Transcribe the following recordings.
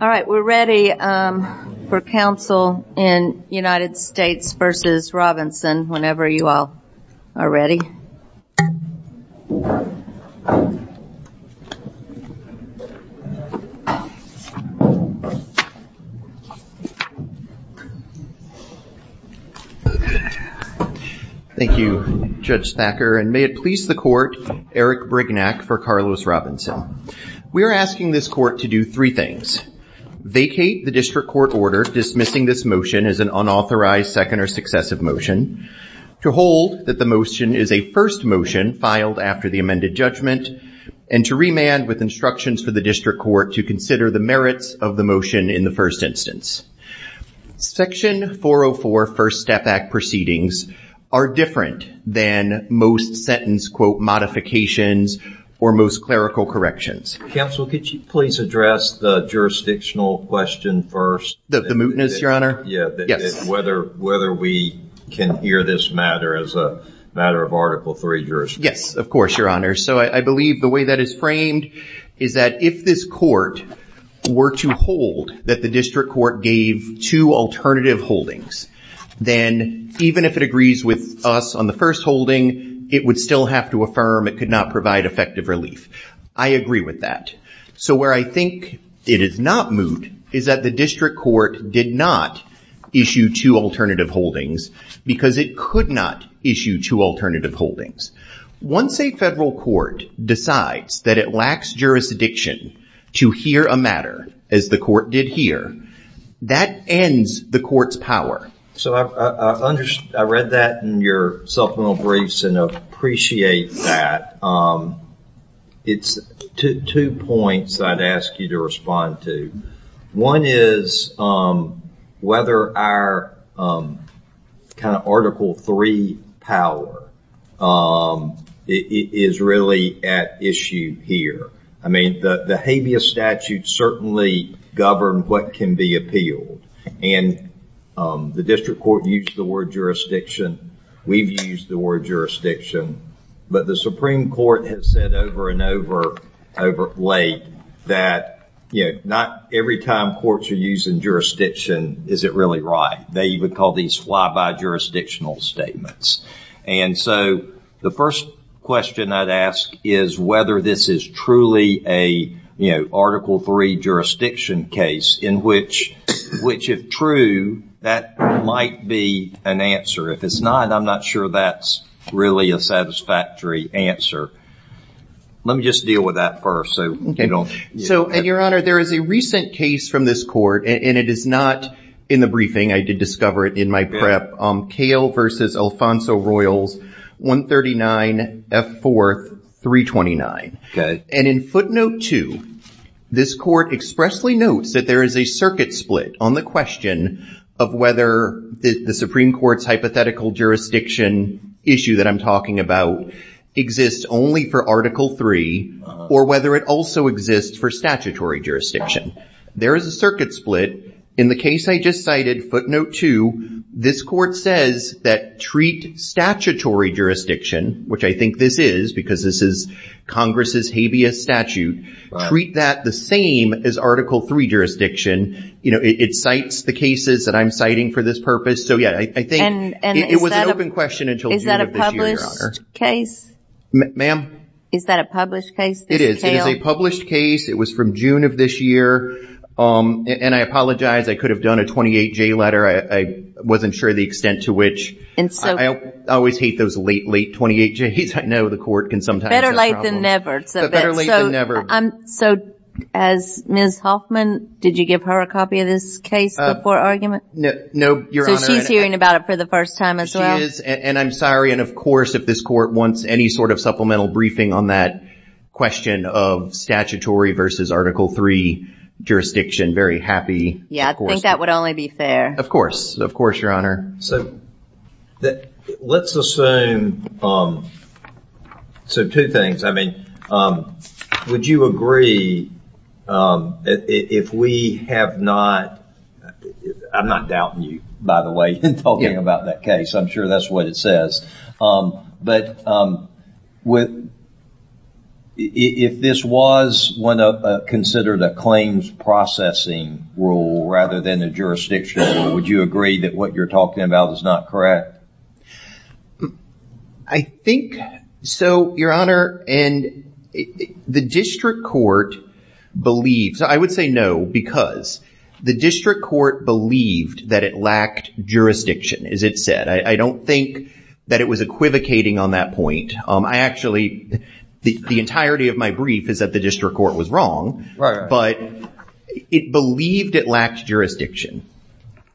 All right, we're ready for counsel in United States v. Robinson whenever you all are ready. Thank You Judge Thacker and may it please the court Eric Brignac for Carlos Robinson. We are asking this court to do three things. Vacate the district court order dismissing this motion as an unauthorized second or successive motion, to hold that the motion is a first motion filed after the amended judgment, and to remand with instructions for the district court to consider the merits of the motion in the first instance. Section 404 First Step Act proceedings are different than most sentence quote modifications or most clerical corrections. Counsel could you please address the jurisdictional question first? The mootness your honor? Yeah, yes. Whether whether we can hear this matter as a matter of Article 3 jurisprudence. Yes, of course your honor. So I believe the way that is framed is that if this court were to hold that the district court gave two alternative holdings, then even if it agrees with us on the first holding it would still have to affirm it could not provide effective relief. I agree with that. So where I think it is not moot is that the district court did not issue two alternative holdings because it could not issue two alternative holdings. Once a federal court decides that it lacks jurisdiction to hear a matter as the court did here, that ends the court's power. So I read that in your supplemental briefs and appreciate that. It's two points I'd ask you to respond to. One is whether our kind of Article 3 power is really at issue here. I mean the habeas statute certainly governed what can be appealed and the district court used the word jurisdiction. We've used the word jurisdiction but the Supreme Court has said over and over over late that you know not every time courts are using jurisdiction is it really right. They would call these fly by jurisdictional statements and so the first question I'd ask is whether this is truly a you know Article 3 jurisdiction case in which which if true that might be an answer. If it's not I'm not sure that's really a satisfactory answer. Let me just deal with that first. So and your honor there is a recent case from this court and it is not in the briefing I did discover it in my prep. Kale versus Alfonso Royals 139 F 4th 329. Okay. And in footnote 2 this court expressly notes that there is a circuit split on the question of whether the Supreme Court's hypothetical jurisdiction issue that I'm talking about exists only for Article 3 or whether it also exists for statutory jurisdiction. There is a circuit split in the case I just cited footnote 2 this court says that treat statutory jurisdiction which I think this is because this is Congress's habeas statute. Treat that the same as Article 3 jurisdiction. You know it cites the cases that I'm citing for this purpose so yeah I think it was an open question until June of this year your honor. Is that a published case? Ma'am? Is that a published case? It is a published case it was from June of this year and I apologize I could have done a 28 J letter I wasn't sure the extent to which and so I always hate those late late 28 J's I know the court can sometimes. Better late than never. So as Ms. Hoffman did you give her a copy of this case before argument? No your honor. So she's hearing about it for the first time as well. She is and I'm sorry and of course if this court wants any sort of supplemental briefing on that question of statutory versus Article 3 jurisdiction very happy. Yeah I that let's assume so two things I mean would you agree if we have not I'm not doubting you by the way and talking about that case I'm sure that's what it says but with if this was one of considered a claims processing rule rather than a jurisdiction would you agree that what you're talking about is not correct? I think so your honor and the district court believes I would say no because the district court believed that it lacked jurisdiction as it said I don't think that it was equivocating on that point I actually the entirety of my brief is that the district court was wrong but it believed it lacked jurisdiction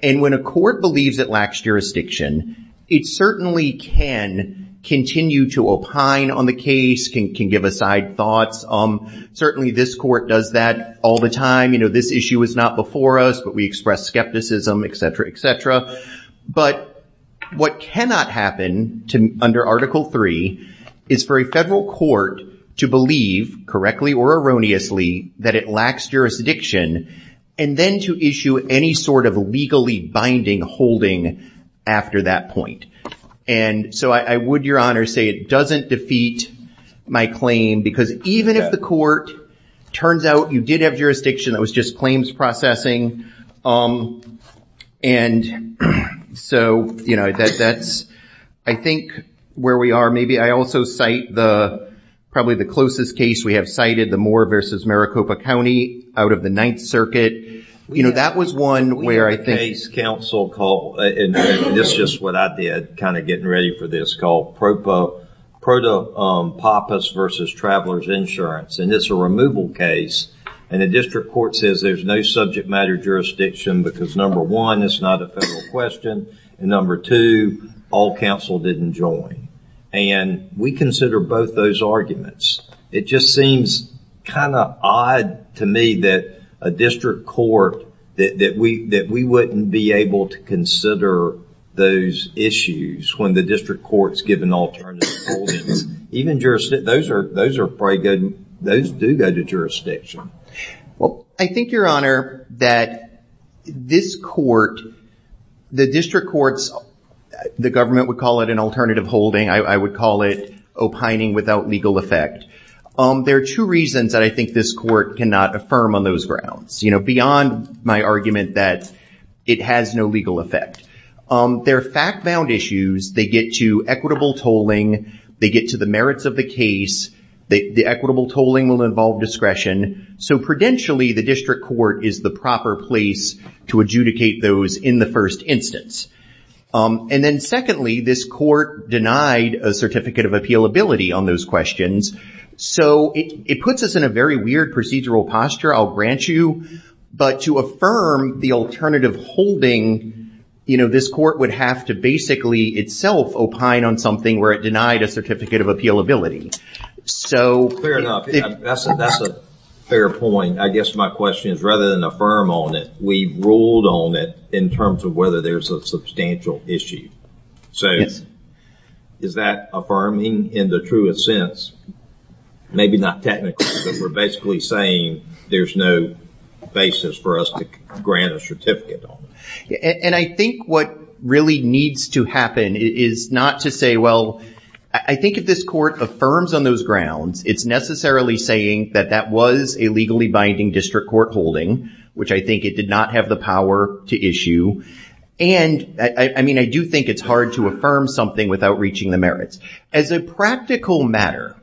and when a court believes it lacks jurisdiction it certainly can continue to opine on the case can give aside thoughts um certainly this court does that all the time you know this issue is not before us but we express skepticism etc etc but what cannot happen to under Article 3 is for a federal court to believe correctly or erroneously that it lacks jurisdiction and then to issue any sort of legally binding holding after that point and so I would your honor say it doesn't defeat my claim because even if the court turns out you did have jurisdiction that was just claims processing um and so you know that that's I think where we are maybe I also cite the probably the closest case we have cited the Moore versus Maricopa County out of the Ninth Circuit you know that was one where I think it's council call and this is just what I did kind of getting ready for this call propo proto papas versus travelers insurance and it's a removal case and the district court says there's no subject matter jurisdiction because number one it's not a federal question and number two all counsel didn't join and we consider both those arguments it just seems kind of odd to me that a district court that we that we wouldn't be able to consider those issues when the district courts give an alternative even jurisdiction those are those are pretty good those do go to jurisdiction well I think your honor that this court the district courts the government would an alternative holding I would call it opining without legal effect there are two reasons that I think this court cannot affirm on those grounds you know beyond my argument that it has no legal effect their fact-bound issues they get to equitable tolling they get to the merits of the case the equitable tolling will involve discretion so prudentially the district court is the proper place to adjudicate those in the first instance and then secondly this court denied a certificate of appeal ability on those questions so it puts us in a very weird procedural posture I'll grant you but to affirm the alternative holding you know this court would have to basically itself opine on something where it denied a certificate of appeal ability so fair point I guess my question is rather than affirm on it we ruled on it in terms of whether there's a substantial issue so yes is that affirming in the truest sense maybe not technically but we're basically saying there's no basis for us to grant a certificate and I think what really needs to happen is not to say well I think if this court affirms on those grounds it's necessarily saying that was a legally binding district court holding which I think it did not have the power to issue and I mean I do think it's hard to affirm something without reaching the merits as a practical matter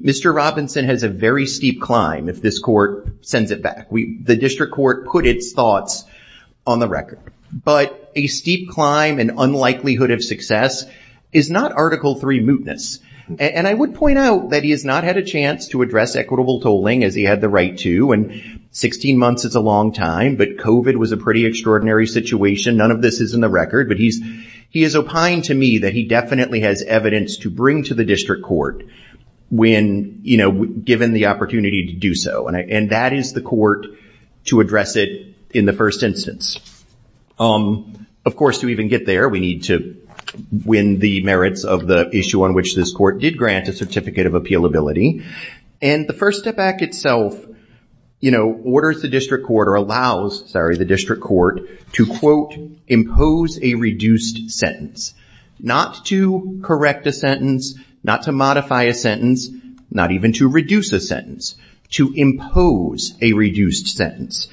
mr. Robinson has a very steep climb if this court sends it back we the district court put its thoughts on the record but a steep climb and unlikelihood of success is not article three mootness and I would point out that he has not had a chance to address equitable tolling as he had the right to and 16 months is a long time but kovat was a pretty extraordinary situation none of this is in the record but he's he is opined to me that he definitely has evidence to bring to the district court when you know given the opportunity to do so and that is the court to address it in the first instance um of course to even get there we need to win the merits of the issue on which this court did grant a of appeal ability and the first step back itself you know orders the district court or allows sorry the district court to quote impose a reduced sentence not to correct a sentence not to modify a sentence not even to reduce a sentence to impose a reduced sentence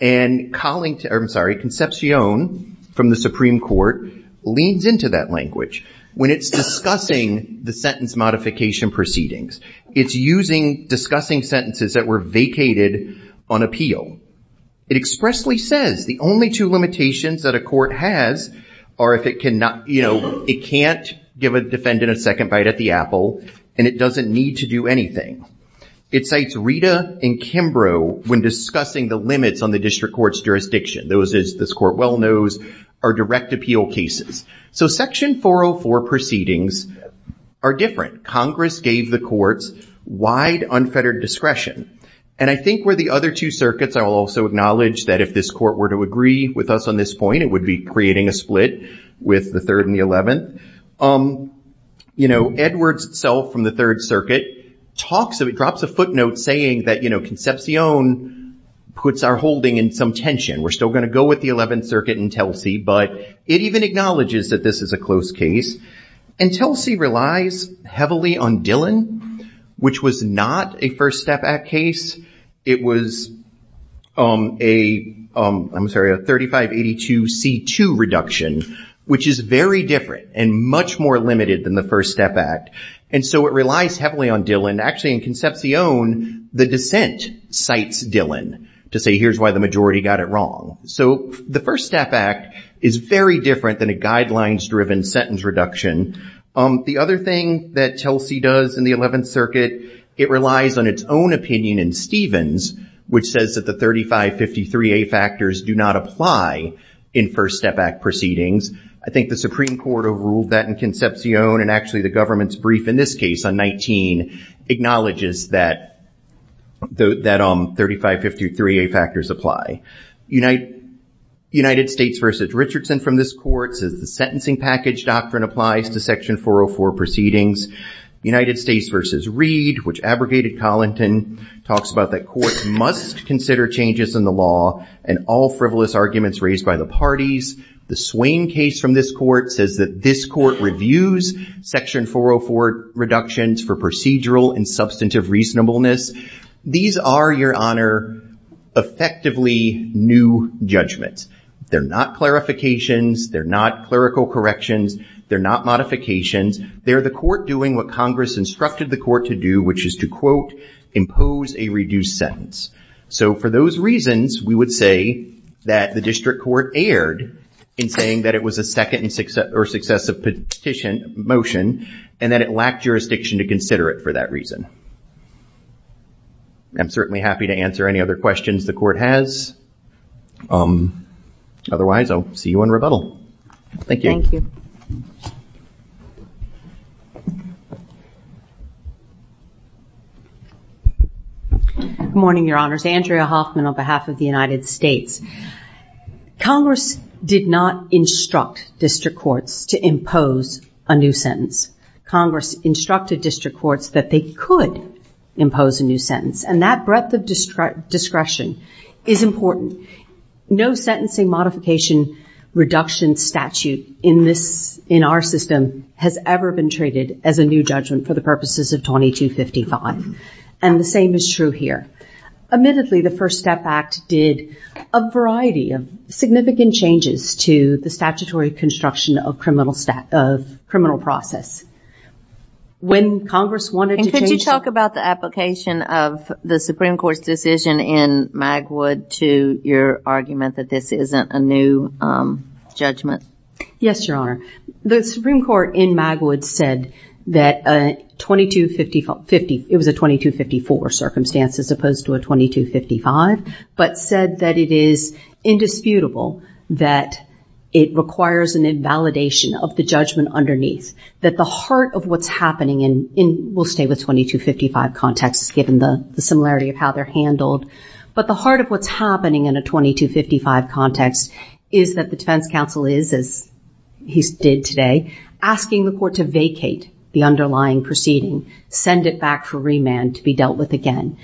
and calling to urban sorry conception from the Supreme Court leans into that language when it's discussing the sentence modification proceedings it's using discussing sentences that were vacated on appeal it expressly says the only two limitations that a court has or if it cannot you know it can't give a defendant a second bite at the Apple and it doesn't need to do anything it cites Rita and Kimbrough when discussing the limits on the district courts jurisdiction those is this court well those are direct appeal cases so section 404 proceedings are different Congress gave the courts wide unfettered discretion and I think where the other two circuits I will also acknowledge that if this court were to agree with us on this point it would be creating a split with the third and the 11th um you know Edwards itself from the Third Circuit talks of it drops a footnote saying that you know conception puts our holding in some tension we're still going to go with the 11th Circuit in Telsey but it even acknowledges that this is a close case and Telsey relies heavily on Dillon which was not a First Step Act case it was a I'm sorry a 3582 c2 reduction which is very different and much more limited than the First Step Act and so it relies heavily on Dillon actually in conception the dissent cites Dillon to say here's why the majority got it wrong so the First Step Act is very different than a guidelines driven sentence reduction um the other thing that Telsey does in the 11th Circuit it relies on its own opinion in Stevens which says that the 3553 a factors do not apply in First Step Act proceedings I think the Supreme Court overruled that in conception and actually the government's brief in this case on 19 acknowledges that that um 3553 a factors apply unite United States versus Richardson from this courts is the sentencing package doctrine applies to section 404 proceedings United States versus read which abrogated Collington talks about that court must consider changes in the law and all frivolous arguments raised by the parties the Swain case from this court says that this court reviews section 404 reductions for procedural and substantive reasonableness these are your honor effectively new judgments they're not clarifications they're not clerical corrections they're not modifications they're the court doing what Congress instructed the court to do which is to quote impose a reduced sentence so for those reasons we would say that the district court erred in saying that it was a second and six or successive petition motion and that it lacked jurisdiction to consider it for that reason I'm certainly happy to answer any other questions the court has otherwise I'll see you in rebuttal thank you morning your honors Andrea Hoffman on behalf of the United States Congress did not instruct district courts to impose a new sentence Congress instructed district courts that they could impose a new sentence and that breadth of district discretion is important no sentencing modification reduction statute in this in our system has ever been treated as a new judgment for the purposes of 2255 and the same is true here admittedly the First Step Act did a variety of significant changes to the statutory construction of criminal stat of criminal process when Congress wanted to talk about the application of the Supreme Court's decision in Magwood to your argument that this isn't a new judgment yes your honor the Supreme Court in Magwood said that a 2254 50 it was a 2254 circumstances opposed to a 2255 but said that it is indisputable that it requires an invalidation of the judgment underneath that the heart of what's happening in in we'll stay with 2255 context given the similarity of how they're handled but the heart of what's happening in a 2255 context is that the defense counsel is as he's did today asking the court to vacate the underlying proceeding send it back for to be dealt with again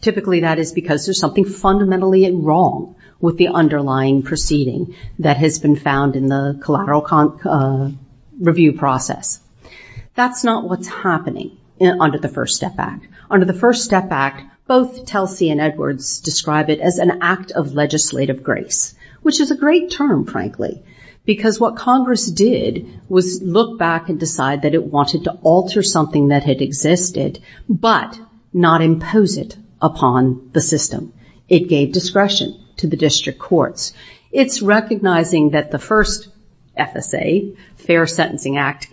typically that is because there's something fundamentally in wrong with the underlying proceeding that has been found in the collateral review process that's not what's happening under the First Step Act under the First Step Act both Telsey and Edwards describe it as an act of legislative grace which is a great term frankly because what Congress did was look back and decide that it wanted to alter something that had existed but not impose it upon the system it gave discretion to the district courts it's recognizing that the first FSA Fair Sentencing Act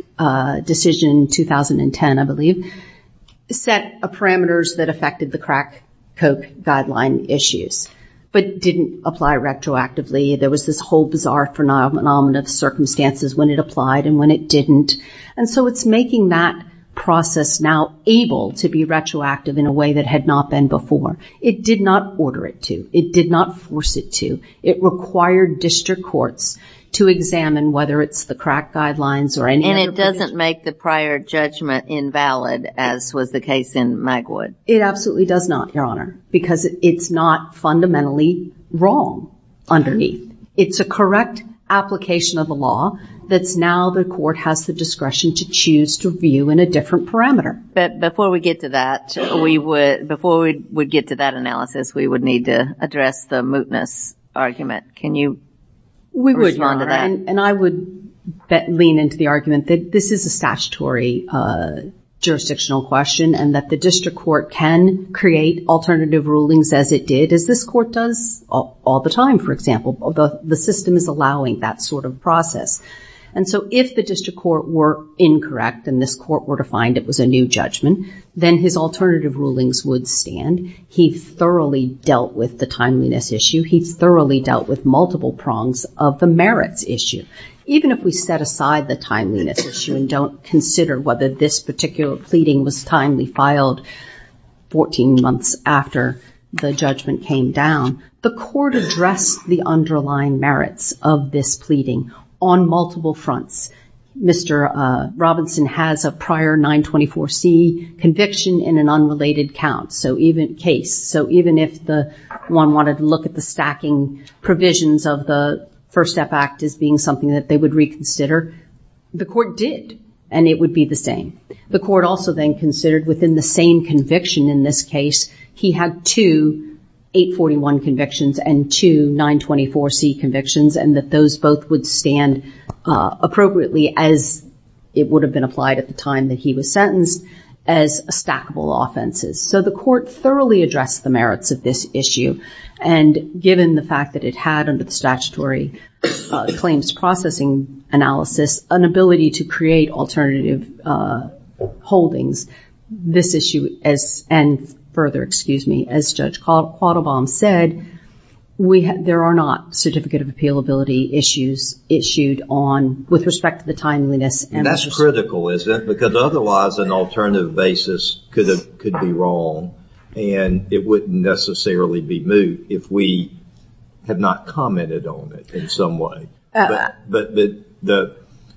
decision 2010 I believe set a parameters that affected the crack coke guideline issues but didn't apply retroactively there was this whole bizarre phenomenon of circumstances when it applied and when it didn't and so it's making that process now able to be retroactive in a way that had not been before it did not order it to it did not force it to it required district courts to examine whether it's the crack guidelines or any and it doesn't make the prior judgment invalid as was the case in Magwood it absolutely does not your honor because it's not fundamentally wrong underneath it's a correct application of the law that's now the court has the discretion to choose to view in a different parameter but before we get to that we would before we would get to that analysis we would need to address the mootness argument can you we would and I would bet lean into the argument that this is a statutory jurisdictional question and that the district court can create alternative rulings as it did is this court does all the time for example of the the system is allowing that sort of process and so if the district court were incorrect and this court were to find it was a new judgment then his alternative rulings would stand he thoroughly dealt with the timeliness issue he thoroughly dealt with multiple prongs of the merits issue even if we set aside the timeliness issue and don't consider whether this particular pleading was timely filed 14 months after the judgment came down the court addressed the underlying merits of this pleading on multiple fronts mr. Robinson has a prior 924 C conviction in an unrelated count so even case so even if the one wanted to look at the stacking provisions of the first step act as being something that they would reconsider the court did and it would be the same the court also then considered within the same conviction in this case he had to 841 convictions and to 924 C convictions and that those both would stand appropriately as it would have been applied at the time that he was sentenced as a stackable offenses so the court thoroughly addressed the merits of this issue and given the fact that it had under the statutory claims processing analysis an ability to create alternative holdings this issue as and further excuse me as judge caught a bomb said we had there are not certificate of appeal ability issues issued on with respect to the timeliness and that's critical is that because otherwise an alternative basis could have could be wrong and it wouldn't necessarily be true if we have not commented on it in some way but the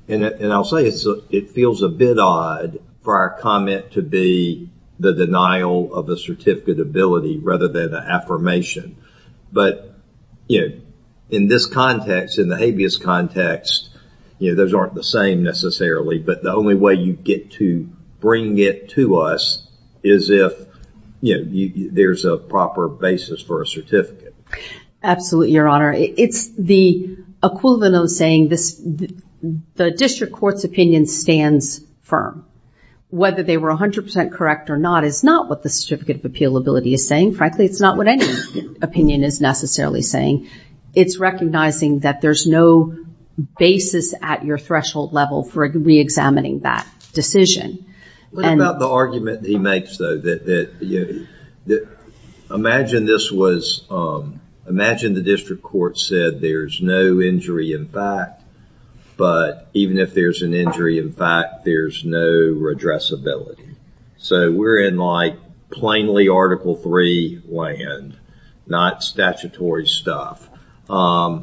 and I'll say it feels a bit odd for our comment to be the denial of a certificate ability rather than an affirmation but you know in this context in the habeas context you know those aren't the same necessarily but the only way you get to bring it to us is if you there's a proper basis for a certificate absolutely your honor it's the equivalent of saying this the district court's opinion stands firm whether they were a hundred percent correct or not is not what the certificate of appeal ability is saying frankly it's not what any opinion is necessarily saying it's recognizing that there's no basis at your threshold level for re-examining that decision and about the argument he makes though that you imagine this was imagine the district court said there's no injury in fact but even if there's an injury in fact there's no redress ability so we're in like plainly article 3 land not statutory stuff yeah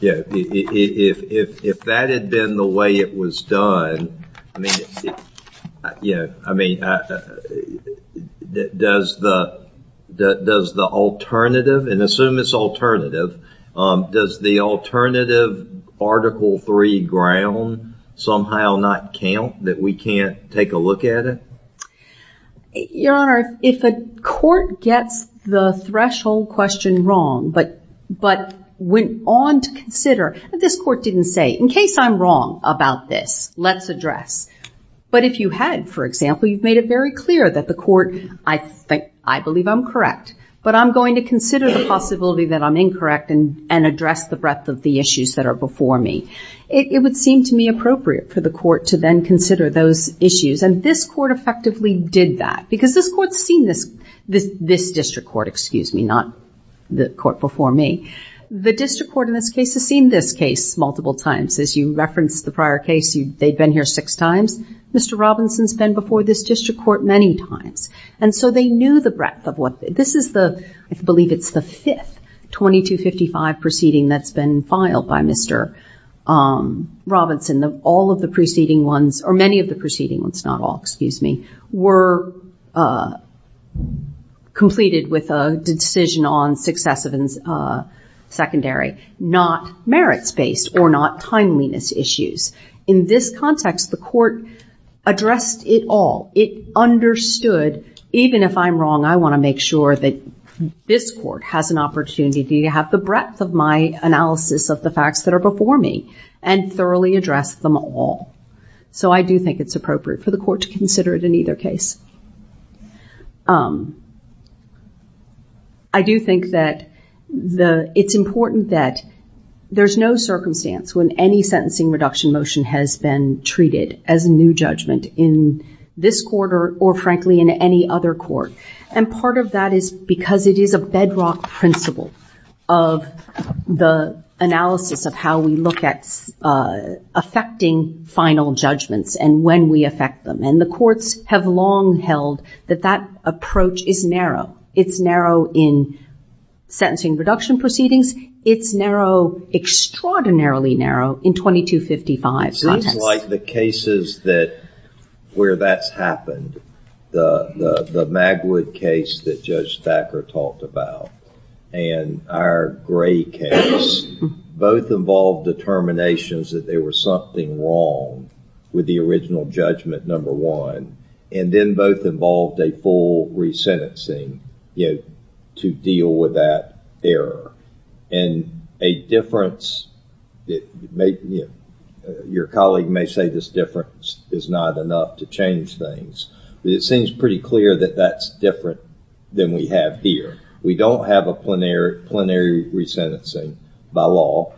if that had been the way it was done I mean yeah I mean that does the does the alternative and assume it's alternative does the alternative article 3 ground somehow not count that we can't take a look at it your honor if a court gets the threshold question wrong but but went on to consider that this court didn't say in I'm wrong about this let's address but if you had for example you've made it very clear that the court I think I believe I'm correct but I'm going to consider the possibility that I'm incorrect and and address the breadth of the issues that are before me it would seem to me appropriate for the court to then consider those issues and this court effectively did that because this court's seen this this this district court excuse me not the court before me the district court in this case has seen this case multiple times as you reference the prior case you they've been here six times mr. Robinson's been before this district court many times and so they knew the breadth of what this is the I believe it's the fifth 2255 proceeding that's been filed by mr. Robinson the all of the preceding ones or many of the preceding ones not excuse me were completed with a decision on successive and secondary not merits based or not timeliness issues in this context the court addressed it all it understood even if I'm wrong I want to make sure that this court has an opportunity to have the breadth of my analysis of the facts that are before me and thoroughly addressed them all so I do think it's appropriate for the court to consider it in either case I do think that the it's important that there's no circumstance when any sentencing reduction motion has been treated as a new judgment in this quarter or frankly in any other court and part of that is because it is a bedrock principle of the analysis of how we look at affecting final judgments and when we affect them and the courts have long held that that approach is narrow it's narrow in sentencing reduction proceedings it's narrow extraordinarily narrow in 2255 like the cases that where that's happened the the Magwood case that judge Thacker talked about and our case both involved determinations that there was something wrong with the original judgment number one and then both involved a full resentencing you know to deal with that error and a difference that make me your colleague may say this difference is not enough to change things but it seems pretty clear that that's different than we have here we don't have a plenary plenary resentencing by law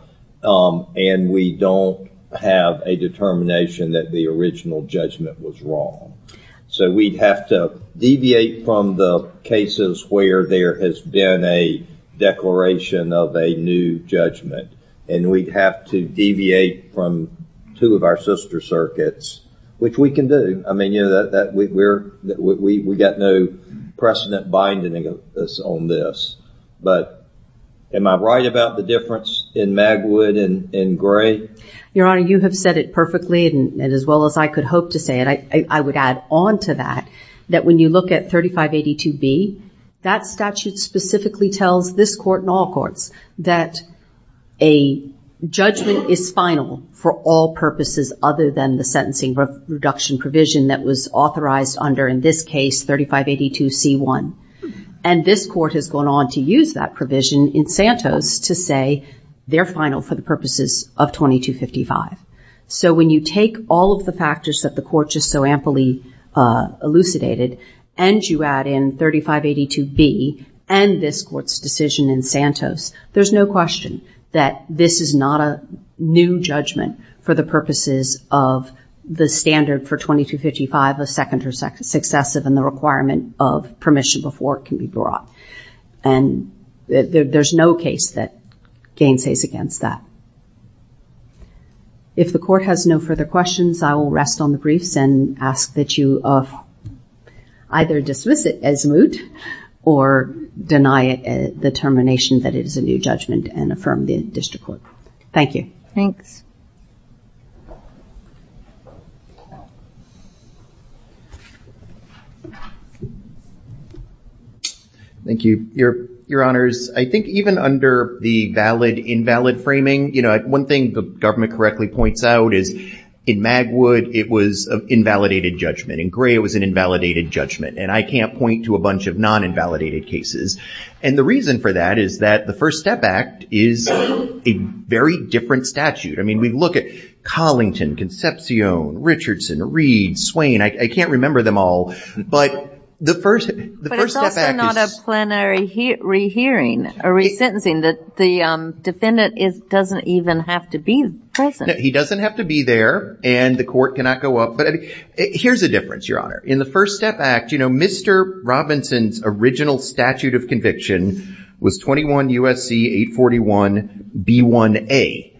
and we don't have a determination that the original judgment was wrong so we'd have to deviate from the cases where there has been a declaration of a new judgment and we'd have to deviate from two of our sister circuits which we can do I mean you know that we're that we got no precedent binding us on this but am I right about the difference in Magwood and in gray your honor you have said it perfectly and as well as I could hope to say it I would add on to that that when you look at 3582 B that statute specifically tells this court in all courts that a judgment is final for all purposes other than the sentencing reduction provision that was authorized under in this case 3582 C1 and this court has gone on to use that provision in Santos to say they're final for the purposes of 2255 so when you take all of the factors that the court just so amply elucidated and you add in 3582 B and this court's decision in Santos there's no question that this is not a new judgment for the purposes of the standard for 2255 a second or second successive and the requirement of permission before it can be brought and there's no case that gainsays against that if the court has no further questions I will rest on the briefs and ask that you of either dismiss it as moot or deny it the termination that it is a new judgment and affirm the district court thank you thanks thank you your your honors I think even under the valid invalid framing you know one thing the government correctly points out is in Magwood it was an invalidated judgment in gray it was an invalidated judgment and I can't point to a bunch of non invalidated cases and the reason for that is that the first step act is a very different statute I mean we look at Collington Concepcion Richardson Reed Swain I can't remember them all but the first the first hearing a resentencing that the defendant is doesn't even have to be present he doesn't have to be there and the court cannot go up but here's a difference your honor in the first step act you know mr. Robinson's original statute of conviction was 21 USC 841 b1a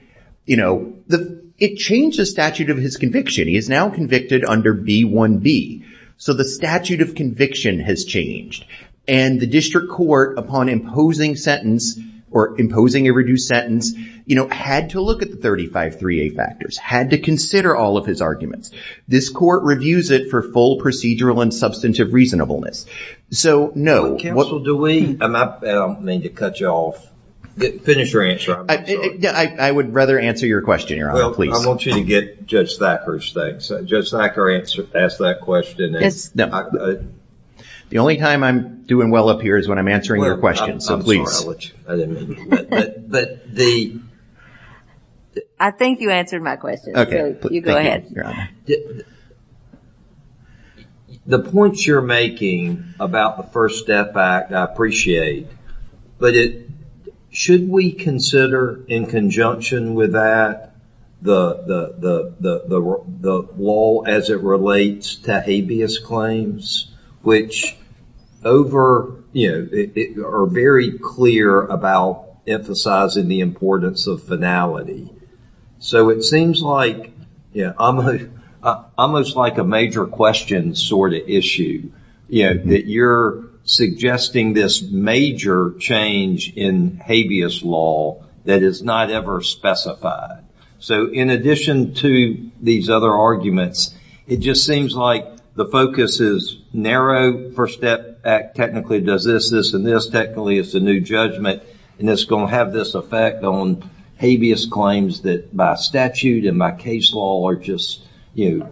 you know the it changed the statute of his conviction he is now convicted under b1b so the statute of conviction has changed and the district court upon imposing sentence or imposing a reduced sentence you know had to look at the 35 3a factors had to consider all of his arguments this court reviews it for full procedural and substantive reasonableness so no what do we mean to cut you off finish your answer I would rather answer your question your honor please I want you to get just that first thing so just like our answer ask that question it's not the only time I'm doing well up here is when I'm answering your question so please I think you my question okay you go ahead the points you're making about the first step back I appreciate but it should we consider in conjunction with that the the the wall as it relates to habeas claims which over you know it are very clear about emphasizing the importance of finality so it seems like almost like a major question sort of issue you know that you're suggesting this major change in habeas law that is not ever specified so in addition to these other arguments it just seems like the focus is narrow first step back technically does this and this technically it's a new judgment and it's gonna have this effect on habeas claims that my statute and my case law are just you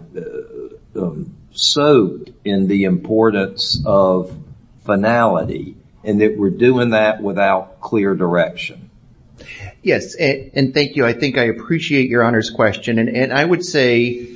know so in the importance of finality and that we're doing that without clear direction yes and thank you I think I appreciate your honors question and I would say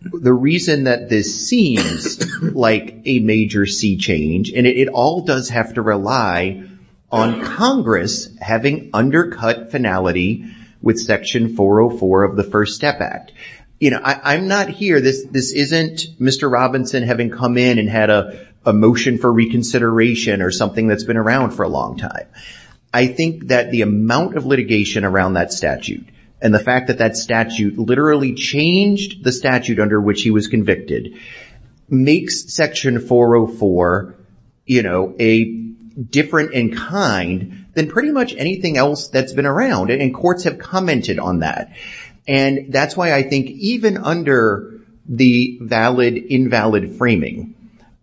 the reason that this seems like a major sea change and it all does have to rely on Congress having undercut finality with section 404 of the first step act you know I'm not here this this isn't mr. Robinson having come in and had a motion for reconsideration or something that's been around for a long time I think that the amount of litigation around that statute and the fact that that statute literally changed the statute under which he was convicted makes section 404 you know a different in kind than pretty much anything else that's been around and courts have commented on that and that's why I think even under the valid invalid framing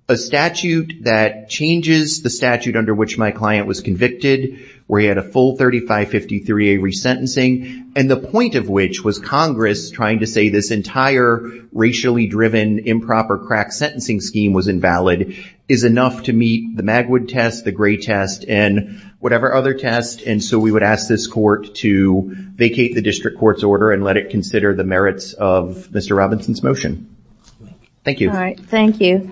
a statute that changes the statute under which my client was convicted where he had a full 3553 a resentencing and the point of which was Congress trying to say this entire racially driven improper crack sentencing scheme was invalid is enough to meet the Magwood test the gray test and whatever other test and so we would ask this court to vacate the district courts order and let it consider the merits of mr. Robinson's motion thank you all right thank you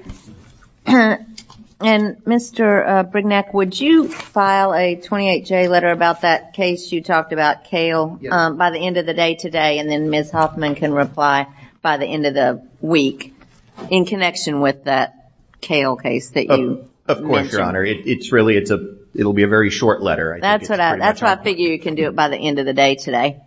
and mr. Brignac would you file a 28 J letter about that you talked about kale by the end of the day today and then miss Hoffman can reply by the end of the week in connection with that kale case that you of course your honor it's really it's a it'll be a very short letter that's what I figured you can do it by the end of the day today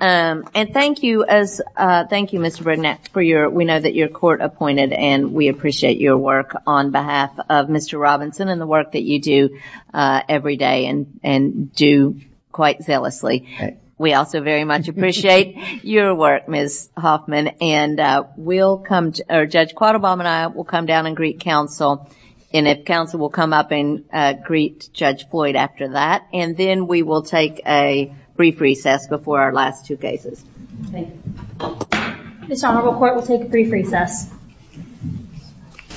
and thank you as thank you mr. Brignac for your we know that your court appointed and we appreciate your work on behalf of mr. Robinson and the work that you do every day and and do quite zealously we also very much appreciate your work miss Hoffman and we'll come to our judge quad Obama and I will come down and greet counsel and if counsel will come up and greet judge Floyd after that and then we will take a brief recess before our last two cases